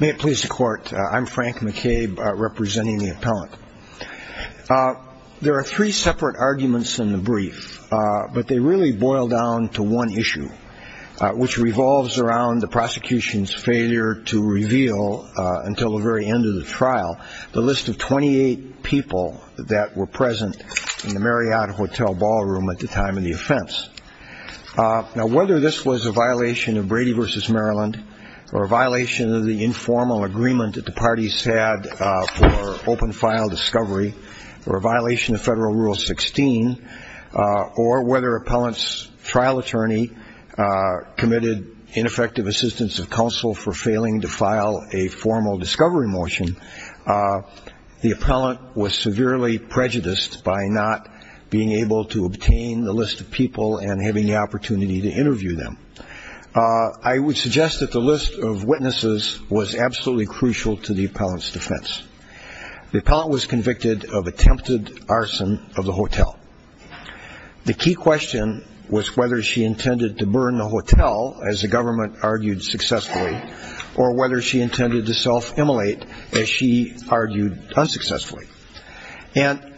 May it please the court, I'm Frank McCabe representing the appellant. There are three separate arguments in the brief, but they really boil down to one issue, which revolves around the prosecution's failure to reveal, until the very end of the trial, the list of 28 people that were present in the Marriott Hotel ballroom at the time of the offense. Now, whether this was a violation of Brady v. Maryland, or a violation of the informal agreement that the parties had for open file discovery, or a violation of Federal Rule 16, or whether appellant's trial attorney committed ineffective assistance of counsel for failing to file a formal discovery motion, the appellant was severely prejudiced by not being able to obtain the list of people and having the opportunity to interview them. I would suggest that the list of witnesses was absolutely crucial to the appellant's defense. The appellant was convicted of attempted arson of the hotel. The key question was whether she intended to burn the hotel, as the government argued successfully, or whether she intended to self-immolate, as she argued unsuccessfully. And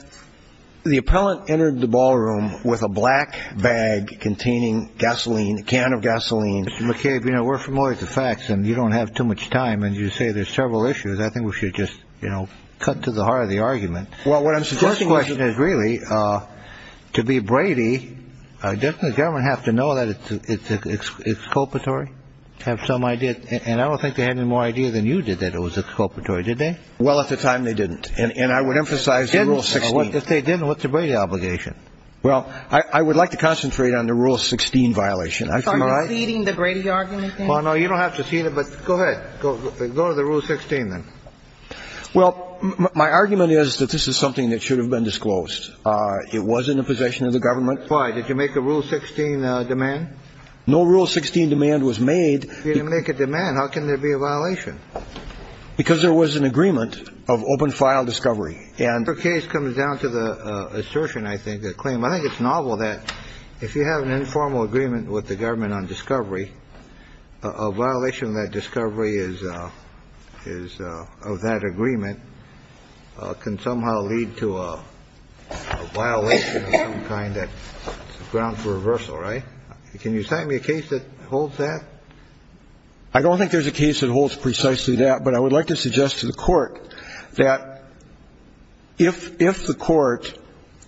the appellant entered the ballroom with a black bag containing gasoline, a can of gasoline. Mr. McCabe, you know, we're familiar with the facts, and you don't have too much time. And you say there's several issues. I think we should just, you know, cut to the heart of the argument. Well, what I'm suggesting is... The first question is, really, to be Brady, doesn't the government have to know that it's a corporatory? Have some idea? And I don't think they had any more idea than you did that it was a corporatory, did they? Well, at the time, they didn't. And I would emphasize the Rule 16. Didn't? If they didn't, what's the Brady obligation? Well, I would like to concentrate on the Rule 16 violation. I feel like... Are you ceding the Brady argument, then? Well, no, you don't have to cede it. But go ahead. Go to the Rule 16, then. Well, my argument is that this is something that should have been disclosed. It was in the possession of the government. Why? Did you make a Rule 16 demand? No Rule 16 demand was made. If you didn't make a demand, how can there be a violation? Because there was an agreement of open-file discovery. And the case comes down to the assertion, I think, the claim. I think it's novel that if you have an informal agreement with the government on discovery, a violation of that discovery is... of that agreement can somehow lead to a violation of some kind that's a reversal, right? Can you cite me a case that holds that? I don't think there's a case that holds precisely that. But I would like to suggest to the court that if the court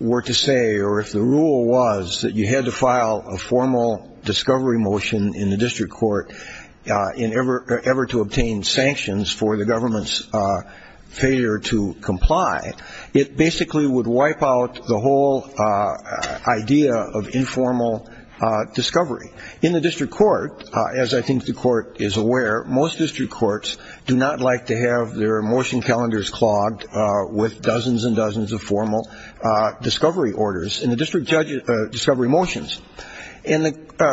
were to say, or if the rule was that you had to file a formal discovery motion in the district court in ever to obtain sanctions for the government's failure to file a formal discovery, in the district court, as I think the court is aware, most district courts do not like to have their motion calendars clogged with dozens and dozens of formal discovery orders in the district discovery motions. And the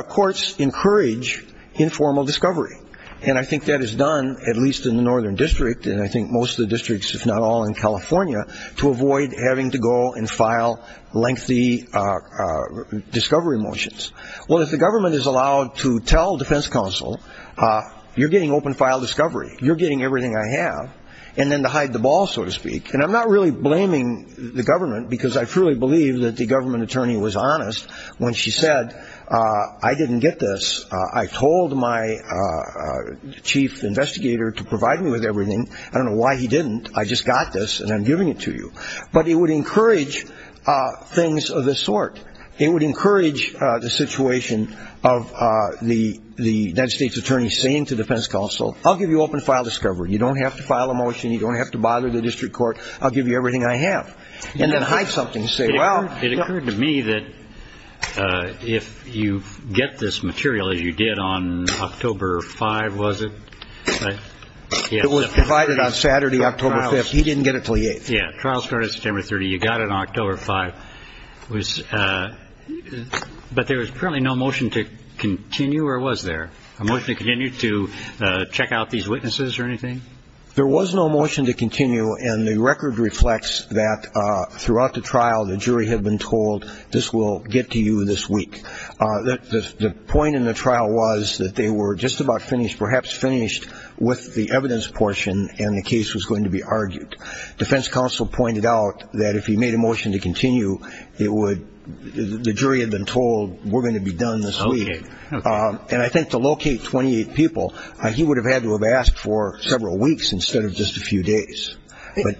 courts encourage informal discovery. And I think that is done, at least in the Northern District, and I think most of the districts, if not all in California, to avoid to go and file lengthy discovery motions. Well, if the government is allowed to tell defense counsel, you're getting open file discovery. You're getting everything I have. And then to hide the ball, so to speak. And I'm not really blaming the government, because I truly believe that the government attorney was honest when she said, I didn't get this. I told my chief investigator to provide me with everything. I don't know why he didn't. I just got this, and I'm giving it to you. But it would encourage things of this sort. It would encourage the situation of the United States attorney saying to defense counsel, I'll give you open file discovery. You don't have to file a motion. You don't have to bother the district court. I'll give you everything I have. And then hide something and say, well. It occurred to me that if you get this material, as you did on October 5, was it? It was provided on Saturday, October 5. He didn't get it until the 8th. Yeah. Trial started September 30. You got it on October 5. But there was apparently no motion to continue, or was there? A motion to continue to check out these witnesses or anything? There was no motion to continue, and the record reflects that throughout the trial, the jury had been told, this will get to you this week. The point in the trial was that they were just about finished, perhaps finished with the evidence portion, and the case was going to be argued. Defense counsel pointed out that if he made a motion to continue, it would the jury had been told, we're going to be done this week. Okay. And I think to locate 28 people, he would have had to have asked for several weeks instead of just a few days.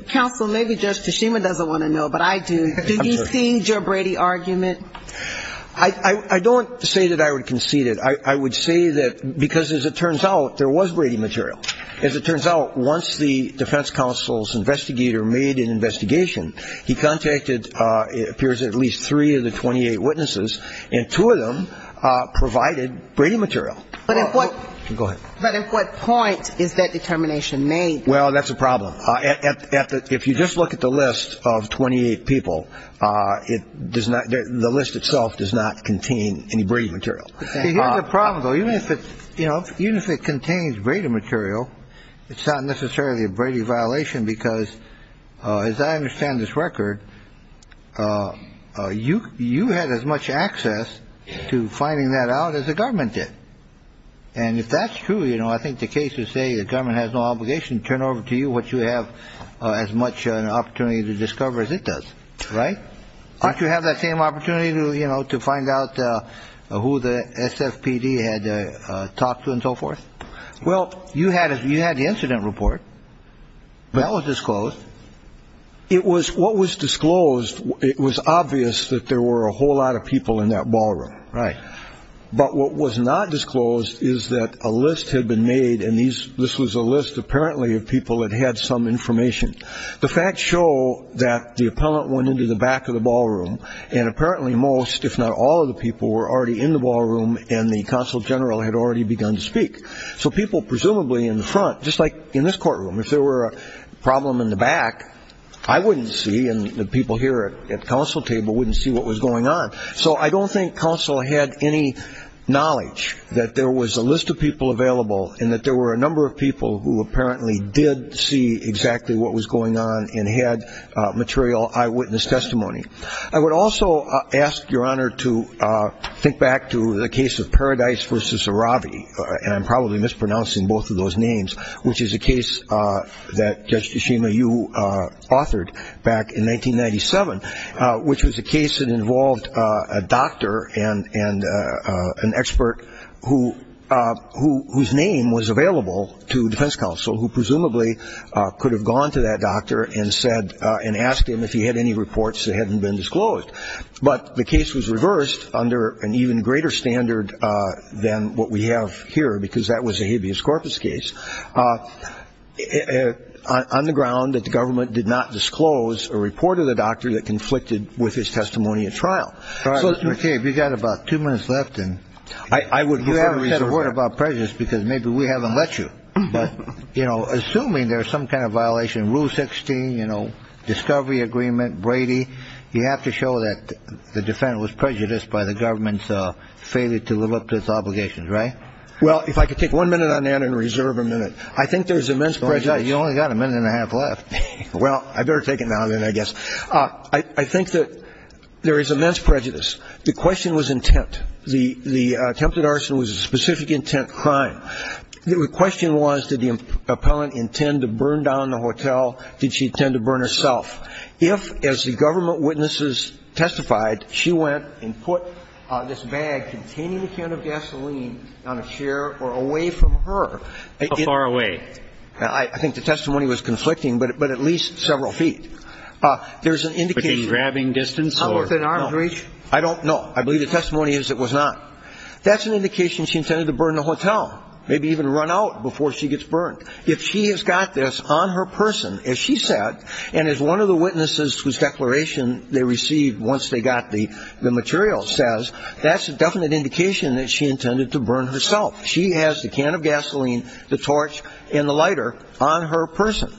Counsel, maybe Judge Tashima doesn't want to know, but I do. Do you see your Brady argument? I don't say that I would concede it. I would say that because, as it turns out, there was Brady material. As it turns out, once the defense counsel's investigator made an investigation, he contacted, it appears, at least three of the 28 witnesses, and two of them provided Brady material. But at what point is that determination made? Well, that's a problem. If you just look at the list of 28 people, the list itself does not contain any Brady material. Here's the problem, though. Even if it contains Brady material, it's not necessarily a Brady violation because, as I understand this record, you had as much access to finding that out as the government did. And if that's true, I think the case would say the government has no obligation to turn over to you what you have as much an opportunity to discover as it does. Right? Don't you have that same opportunity to find out who the SFPD had talked to and so forth? Well, you had the incident report. That was disclosed. It was what was disclosed. It was obvious that there were a whole lot of people in that ballroom. Right. But what was not disclosed is that a list had been made, and this was a list apparently of people that had some information. The facts show that the appellant went into the back of the ballroom, and apparently most, if not all, of the people were already in the ballroom and the consul general had already begun to speak. So people presumably in the front, just like in this courtroom, if there were a problem in the back, I wouldn't see and the people here at the consul table wouldn't see what was going on. So I don't think consul had any knowledge that there was a list of people available and that there were a number of people who apparently did see exactly what was going on and had material eyewitness testimony. I would also ask, Your Honor, to think back to the case of Paradise v. Aravi, and I'm probably mispronouncing both of those names, which is a case that Judge Tshishima, you authored back in 1997, which was a case that involved a doctor and an expert whose name was available to defense counsel, who presumably could have gone to that doctor and asked him if he had any reports that hadn't been disclosed. But the case was reversed under an even greater standard than what we have here, because that was a habeas corpus case, on the ground that the government did not disclose a report of the doctor that conflicted with his testimony at trial. So, Mr. McCabe, you've got about two minutes left and you haven't said a word about prejudice because maybe we haven't let you, but, you know, assuming there's some kind of violation of Rule 16, you know, Discovery Agreement, Brady, you have to show that the defendant was prejudiced by the government's failure to live up to its obligations, right? Well, if I could take one minute on that and reserve a minute. I think there's immense prejudice. You've only got a minute and a half left. Well, I'd better take it now, then, I guess. I think that there is immense prejudice. The question was intent. The attempted arson was a specific intent crime. The question was, did the appellant intend to burn down the hotel, did she intend to burn herself? If, as the government witnesses testified, she went and put this bag containing a can of gasoline on a chair or away from her. How far away? I think the testimony was conflicting, but at least several feet. There's an indication. Was she grabbing distance or? No. I don't know. I believe the testimony is it was not. That's an indication she intended to burn the hotel, maybe even run out before she gets burned. If she has got this on her person, as she said, and as one of the witnesses whose that she intended to burn herself. She has the can of gasoline, the torch, and the lighter on her person.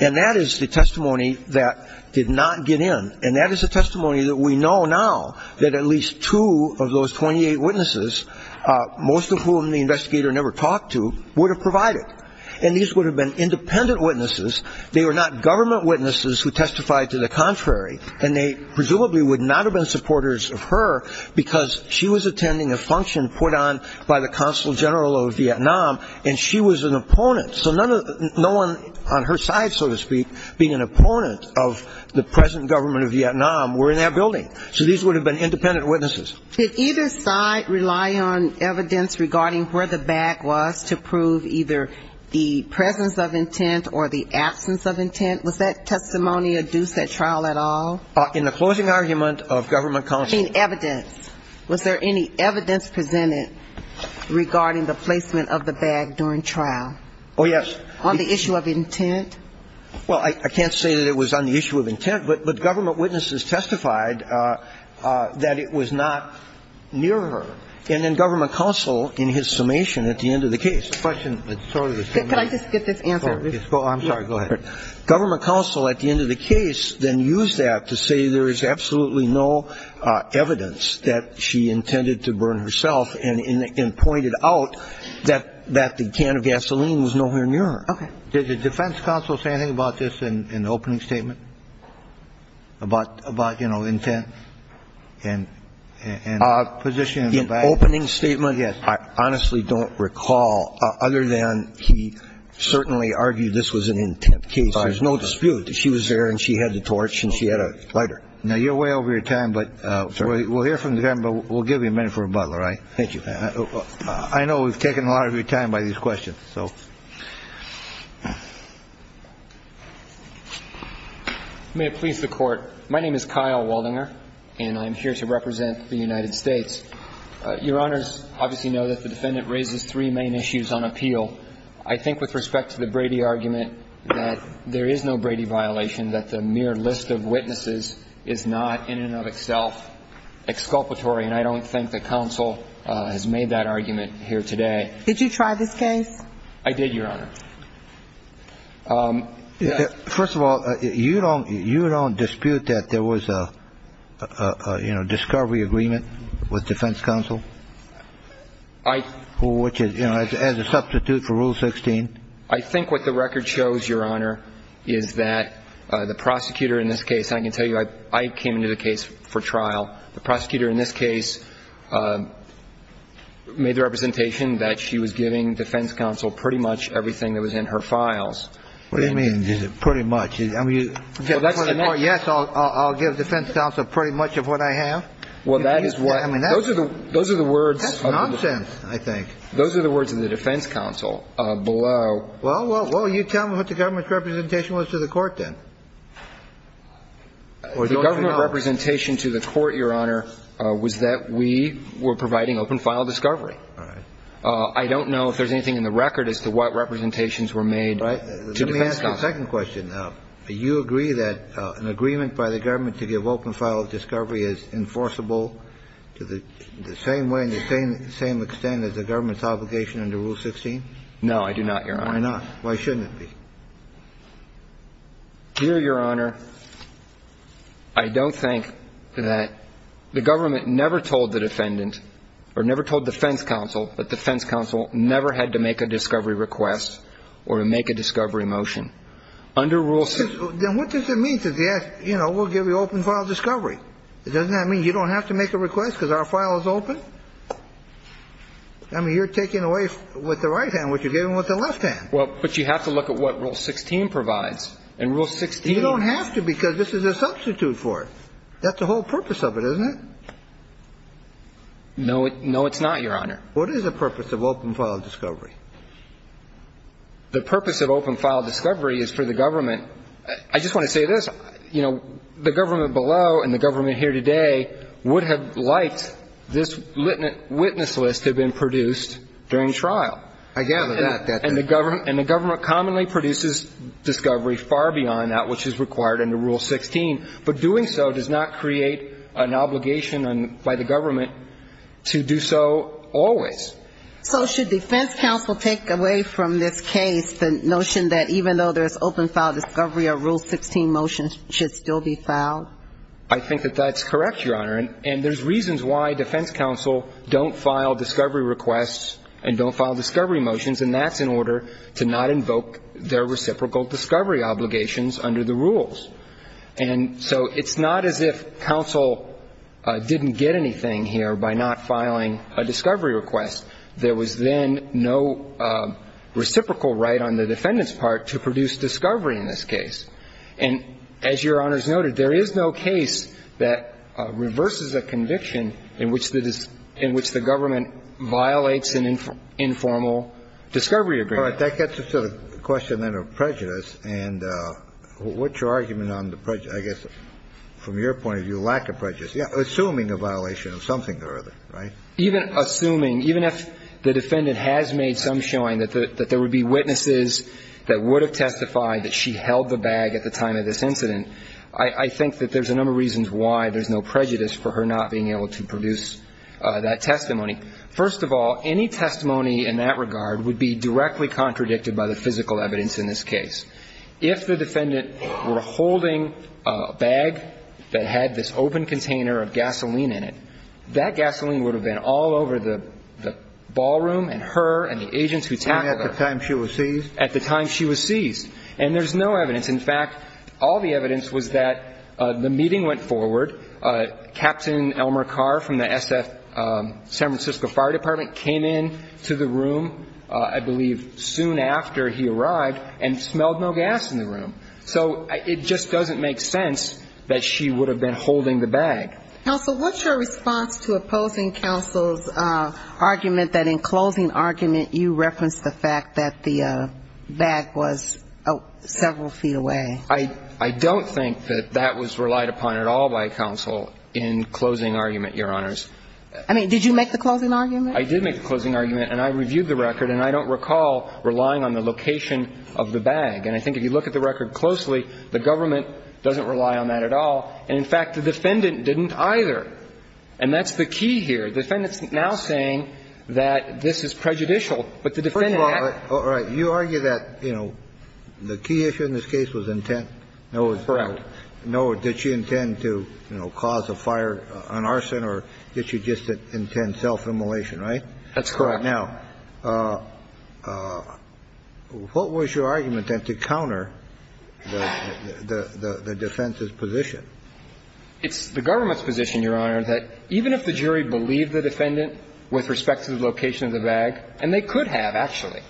And that is the testimony that did not get in. And that is the testimony that we know now that at least two of those 28 witnesses, most of whom the investigator never talked to, would have provided. And these would have been independent witnesses. They were not government witnesses who testified to the contrary. And they presumably would not have been supporters of her because she was attending a function put on by the Consul General of Vietnam. And she was an opponent. So no one on her side, so to speak, being an opponent of the present government of Vietnam were in that building. So these would have been independent witnesses. Did either side rely on evidence regarding where the bag was to prove either the presence of intent or the absence of intent? Was that testimony adduced at trial at all? In the closing argument of government counsel. I mean evidence. Was there any evidence presented regarding the placement of the bag during trial? Oh, yes. On the issue of intent? Well, I can't say that it was on the issue of intent. But government witnesses testified that it was not near her. And then government counsel, in his summation at the end of the case, the question that sort of was coming up. Could I just get this answer? I'm sorry, go ahead. Government counsel at the end of the case then used that to say there is absolutely no evidence that she intended to burn herself and pointed out that the can of gasoline was nowhere near her. Okay. Did the defense counsel say anything about this in the opening statement? About, you know, intent and the position of the bag? In the opening statement, I honestly don't recall, other than he certainly argued this was an intent case. There's no dispute that she was there and she had the torch and she had a lighter. Now, you're way over your time. But we'll hear from the defendant, but we'll give you a minute for rebuttal, all right? Thank you. I know we've taken a lot of your time by these questions, so. May it please the court. My name is Kyle Waldinger, and I'm here to represent the United States. Your honors obviously know that the defendant raises three main issues on appeal. I think with respect to the Brady argument that there is no Brady violation, that the mere list of witnesses is not in and of itself exculpatory. And I don't think the counsel has made that argument here today. Did you try this case? I did, your honor. First of all, you don't dispute that there was a, you know, discovery agreement with defense counsel? I. Which is, you know, as a substitute for Rule 16. I think what the record shows, your honor, is that the prosecutor in this case, I can tell you, I came into the case for trial. The prosecutor in this case made the representation that she was giving defense counsel pretty much everything that was in her files. What do you mean, pretty much? I mean, yes, I'll give defense counsel pretty much of what I have? Well, that is what, I mean, those are the words. That's nonsense, I think. Those are the words of the defense counsel below. Well, well, well, you tell me what the government's representation was to the court, then. The government representation to the court, your honor, was that we were providing open file discovery. All right. I don't know if there's anything in the record as to what representations were made. Right. Let me ask you a second question. Do you agree that an agreement by the government to give open file discovery is enforceable to the same way and the same extent as the government's obligation under Rule 16? No, I do not, your honor. Why not? Why shouldn't it be? Here, your honor, I don't think that the government never told the defendant, or never told defense counsel that defense counsel never had to make a discovery request or make a discovery motion. Under Rule 16. Then what does it mean to say, you know, we'll give you open file discovery? Doesn't that mean you don't have to make a request because our file is open? I mean, you're taking away with the right hand what you're giving with the left hand. Well, but you have to look at what Rule 16 provides. In Rule 16. You don't have to because this is a substitute for it. That's the whole purpose of it, isn't it? No, no, it's not, your honor. What is the purpose of open file discovery? The purpose of open file discovery is for the government. I just want to say this, you know, the government below and the government here today would have liked this witness list to have been produced during trial. I gather that. And the government commonly produces discovery far beyond that which is required under Rule 16. But doing so does not create an obligation by the government to do so always. So should defense counsel take away from this case the notion that even though there's open file discovery, a Rule 16 motion should still be filed? I think that that's correct, your honor. And there's reasons why defense counsel don't file discovery requests and don't file discovery motions, and that's in order to not invoke their reciprocal discovery obligations under the rules. And so it's not as if counsel didn't get anything here by not filing a discovery request. There was then no reciprocal right on the defendant's part to produce discovery in this case. And as your honors noted, there is no case that reverses a conviction in which the government violates an informal discovery agreement. All right. That gets us to the question then of prejudice. And what's your argument on the prejudice, I guess, from your point of view, lack of prejudice, assuming a violation of something or other, right? Even assuming, even if the defendant has made some showing that there would be witnesses that would have testified that she held the bag at the time of this incident, I think that there's a number of reasons why there's no prejudice for her not being able to produce that testimony. First of all, any testimony in that regard would be directly contradicted by the physical evidence in this case. If the defendant were holding a bag that had this open container of gasoline in it, that gasoline would have been all over the ballroom and her and the agents who tackled her. And at the time she was seized? At the time she was seized. And there's no evidence. In fact, all the evidence was that the meeting went forward. Captain Elmer Carr from the San Francisco Fire Department came into the room, I believe, soon after he arrived and smelled no gas in the room. So it just doesn't make sense that she would have been holding the bag. Counsel, what's your response to opposing counsel's argument that in closing argument you referenced the fact that the bag was several feet away? I don't think that that was relied upon at all by counsel in closing argument, Your Honors. I mean, did you make the closing argument? I did make the closing argument, and I reviewed the record, and I don't recall relying on the location of the bag. And I think if you look at the record closely, the government doesn't rely on that at all. And in fact, the defendant didn't either. And that's the key here. The defendant's now saying that this is prejudicial. But the defendant actually. All right. You argue that, you know, the key issue in this case was intent. Correct. No, did she intend to, you know, cause a fire, an arson, or did she just intend self-immolation, right? That's correct. Now, what was your argument then to counter the defense's position? It's the government's position, Your Honor, that even if the jury believed the defendant with respect to the location of the bag, and they could have, actually,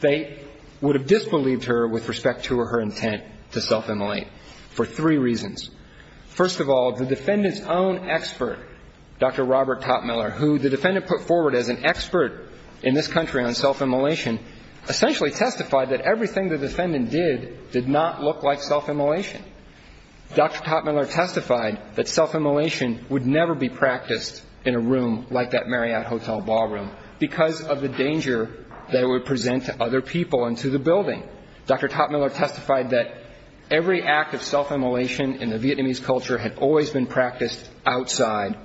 they would have disbelieved her with respect to her intent to self-immolate for three reasons. First of all, the defendant's own expert, Dr. Robert Totmiller, who the defendant put forward as an expert in this country on self-immolation, essentially testified that everything the defendant did did not look like self-immolation. Dr. Totmiller testified that self-immolation would never be practiced in a room like that Marriott Hotel ballroom because of the danger that it would present to other people and to the building. Dr. Totmiller testified that every act of self-immolation in the Vietnamese culture had always been practiced outside.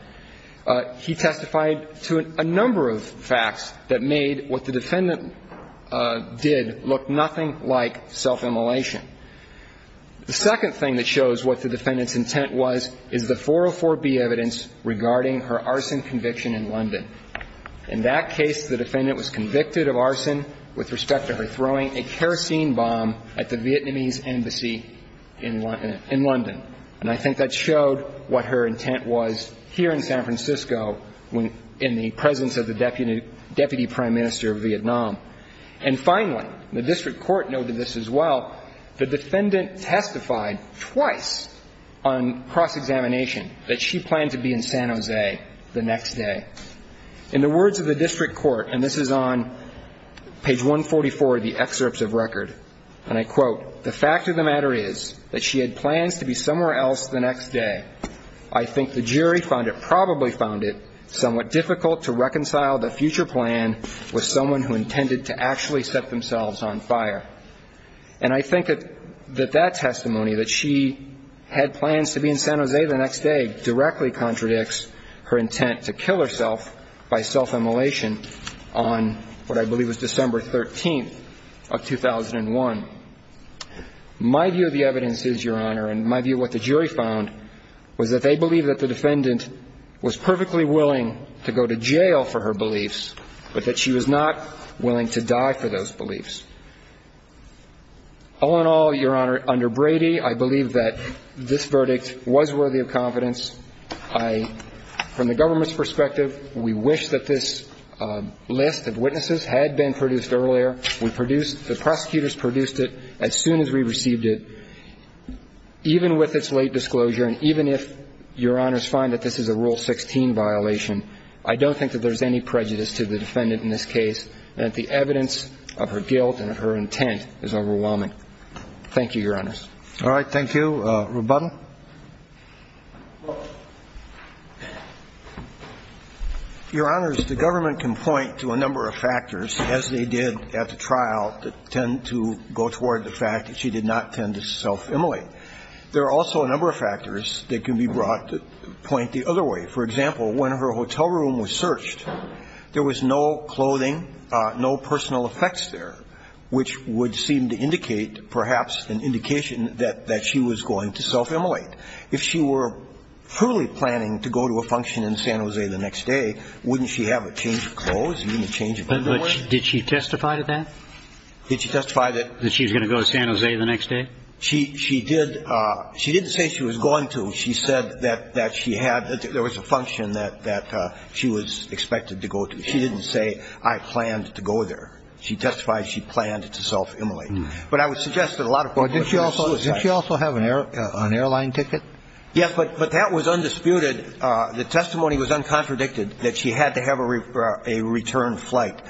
He testified to a number of facts that made what the defendant did look nothing like self-immolation. The second thing that shows what the defendant's intent was is the 404B evidence regarding her arson conviction in London. In that case, the defendant was convicted of arson with respect to her throwing a kerosene bomb at the Vietnamese embassy in London. And I think that showed what her intent was here in San Francisco in the presence of the Deputy Prime Minister of Vietnam. And finally, the District Court noted this as well, the defendant testified twice on cross-examination that she planned to be in San Jose the next day. In the words of the District Court, and this is on page 144 of the excerpts of record, and I quote, the fact of the matter is that she had plans to be somewhere else the next day. I think the jury found it, probably found it, somewhat difficult to reconcile the future plan with someone who intended to actually set themselves on fire. And I think that that testimony, that she had plans to be in San Jose the next day, directly contradicts her intent to kill herself by self-immolation on what I believe was December 13th of 2001. My view of the evidence is, Your Honor, and my view of what the jury found, was that they believe that the defendant was perfectly willing to go to jail for her beliefs, but that she was not willing to die for those beliefs. All in all, Your Honor, under Brady, I believe that this verdict was worthy of confidence. From the government's perspective, we wish that this list of witnesses had been produced earlier. We produced, the prosecutors produced it as soon as we received it. Even with its late disclosure, and even if Your Honors find that this is a Rule 16 violation, I don't think that there's any prejudice to the defendant in this case that the evidence of her guilt and her intent is overwhelming. Thank you, Your Honors. All right. Thank you. Rebuttal. Your Honors, the government can point to a number of factors, as they did at the trial, that tend to go toward the fact that she did not tend to self-immolate. There are also a number of factors that can be brought to point the other way. For example, when her hotel room was searched, there was no clothing, no personal effects there, which would seem to indicate, perhaps, an indication that she was going to self-immolate. If she were truly planning to go to a function in San Jose the next day, wouldn't she have a change of clothes, even a change of underwear? Did she testify to that? Did she testify that? That she was going to go to San Jose the next day? She did. She didn't say she was going to. She said that she had, there was a function that she was expected to go to. She didn't say, I planned to go there. She testified she planned to self-immolate. But I would suggest that a lot of people would do a suicide. Did she also have an airline ticket? Yes, but that was undisputed. The testimony was uncontradicted, that she had to have a return flight.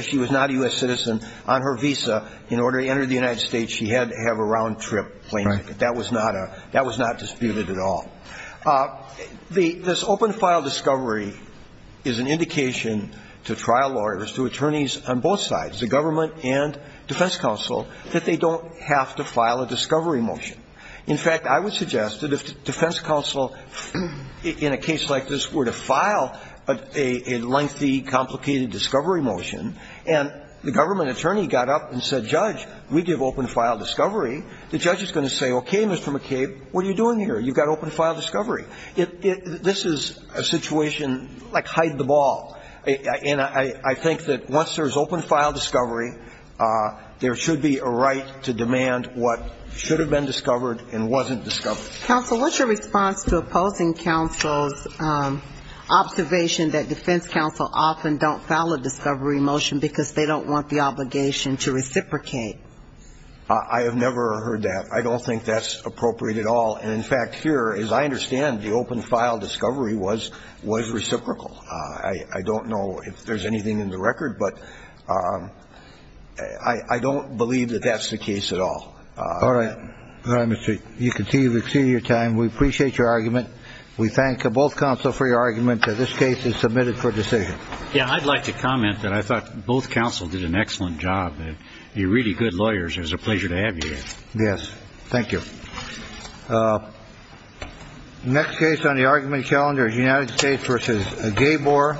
She was not a U.S. citizen. On her visa, in order to enter the United States, she had to have a round-trip plane ticket. That was not disputed at all. This open-file discovery is an indication to trial lawyers, to attorneys on both sides, the government and defense counsel, that they don't have to file a discovery motion. In fact, I would suggest that if defense counsel in a case like this were to file a lengthy, complicated discovery motion, and the government attorney got up and said, Judge, we give open-file discovery, the judge is going to say, okay, Mr. McCabe, what are you doing here? You've got open-file discovery. This is a situation like hide the ball. And I think that once there's open-file discovery, there should be a right to demand what should have been discovered and wasn't discovered. Counsel, what's your response to opposing counsel's observation that defense counsel often don't file a discovery motion because they don't want the obligation to reciprocate? I have never heard that. I don't think that's appropriate at all. And in fact, here, as I understand, the open-file discovery was reciprocal. I don't know if there's anything in the record. But I don't believe that that's the case at all. All right. All right, Mr. McCabe, you've exceeded your time. We appreciate your argument. We thank both counsel for your argument that this case is submitted for decision. Yeah, I'd like to comment that I thought both counsel did an excellent job. You're really good lawyers. It's a pleasure to have you. Yes. Thank you. Next case on the argument calendar is United States versus Gabor. Thank you.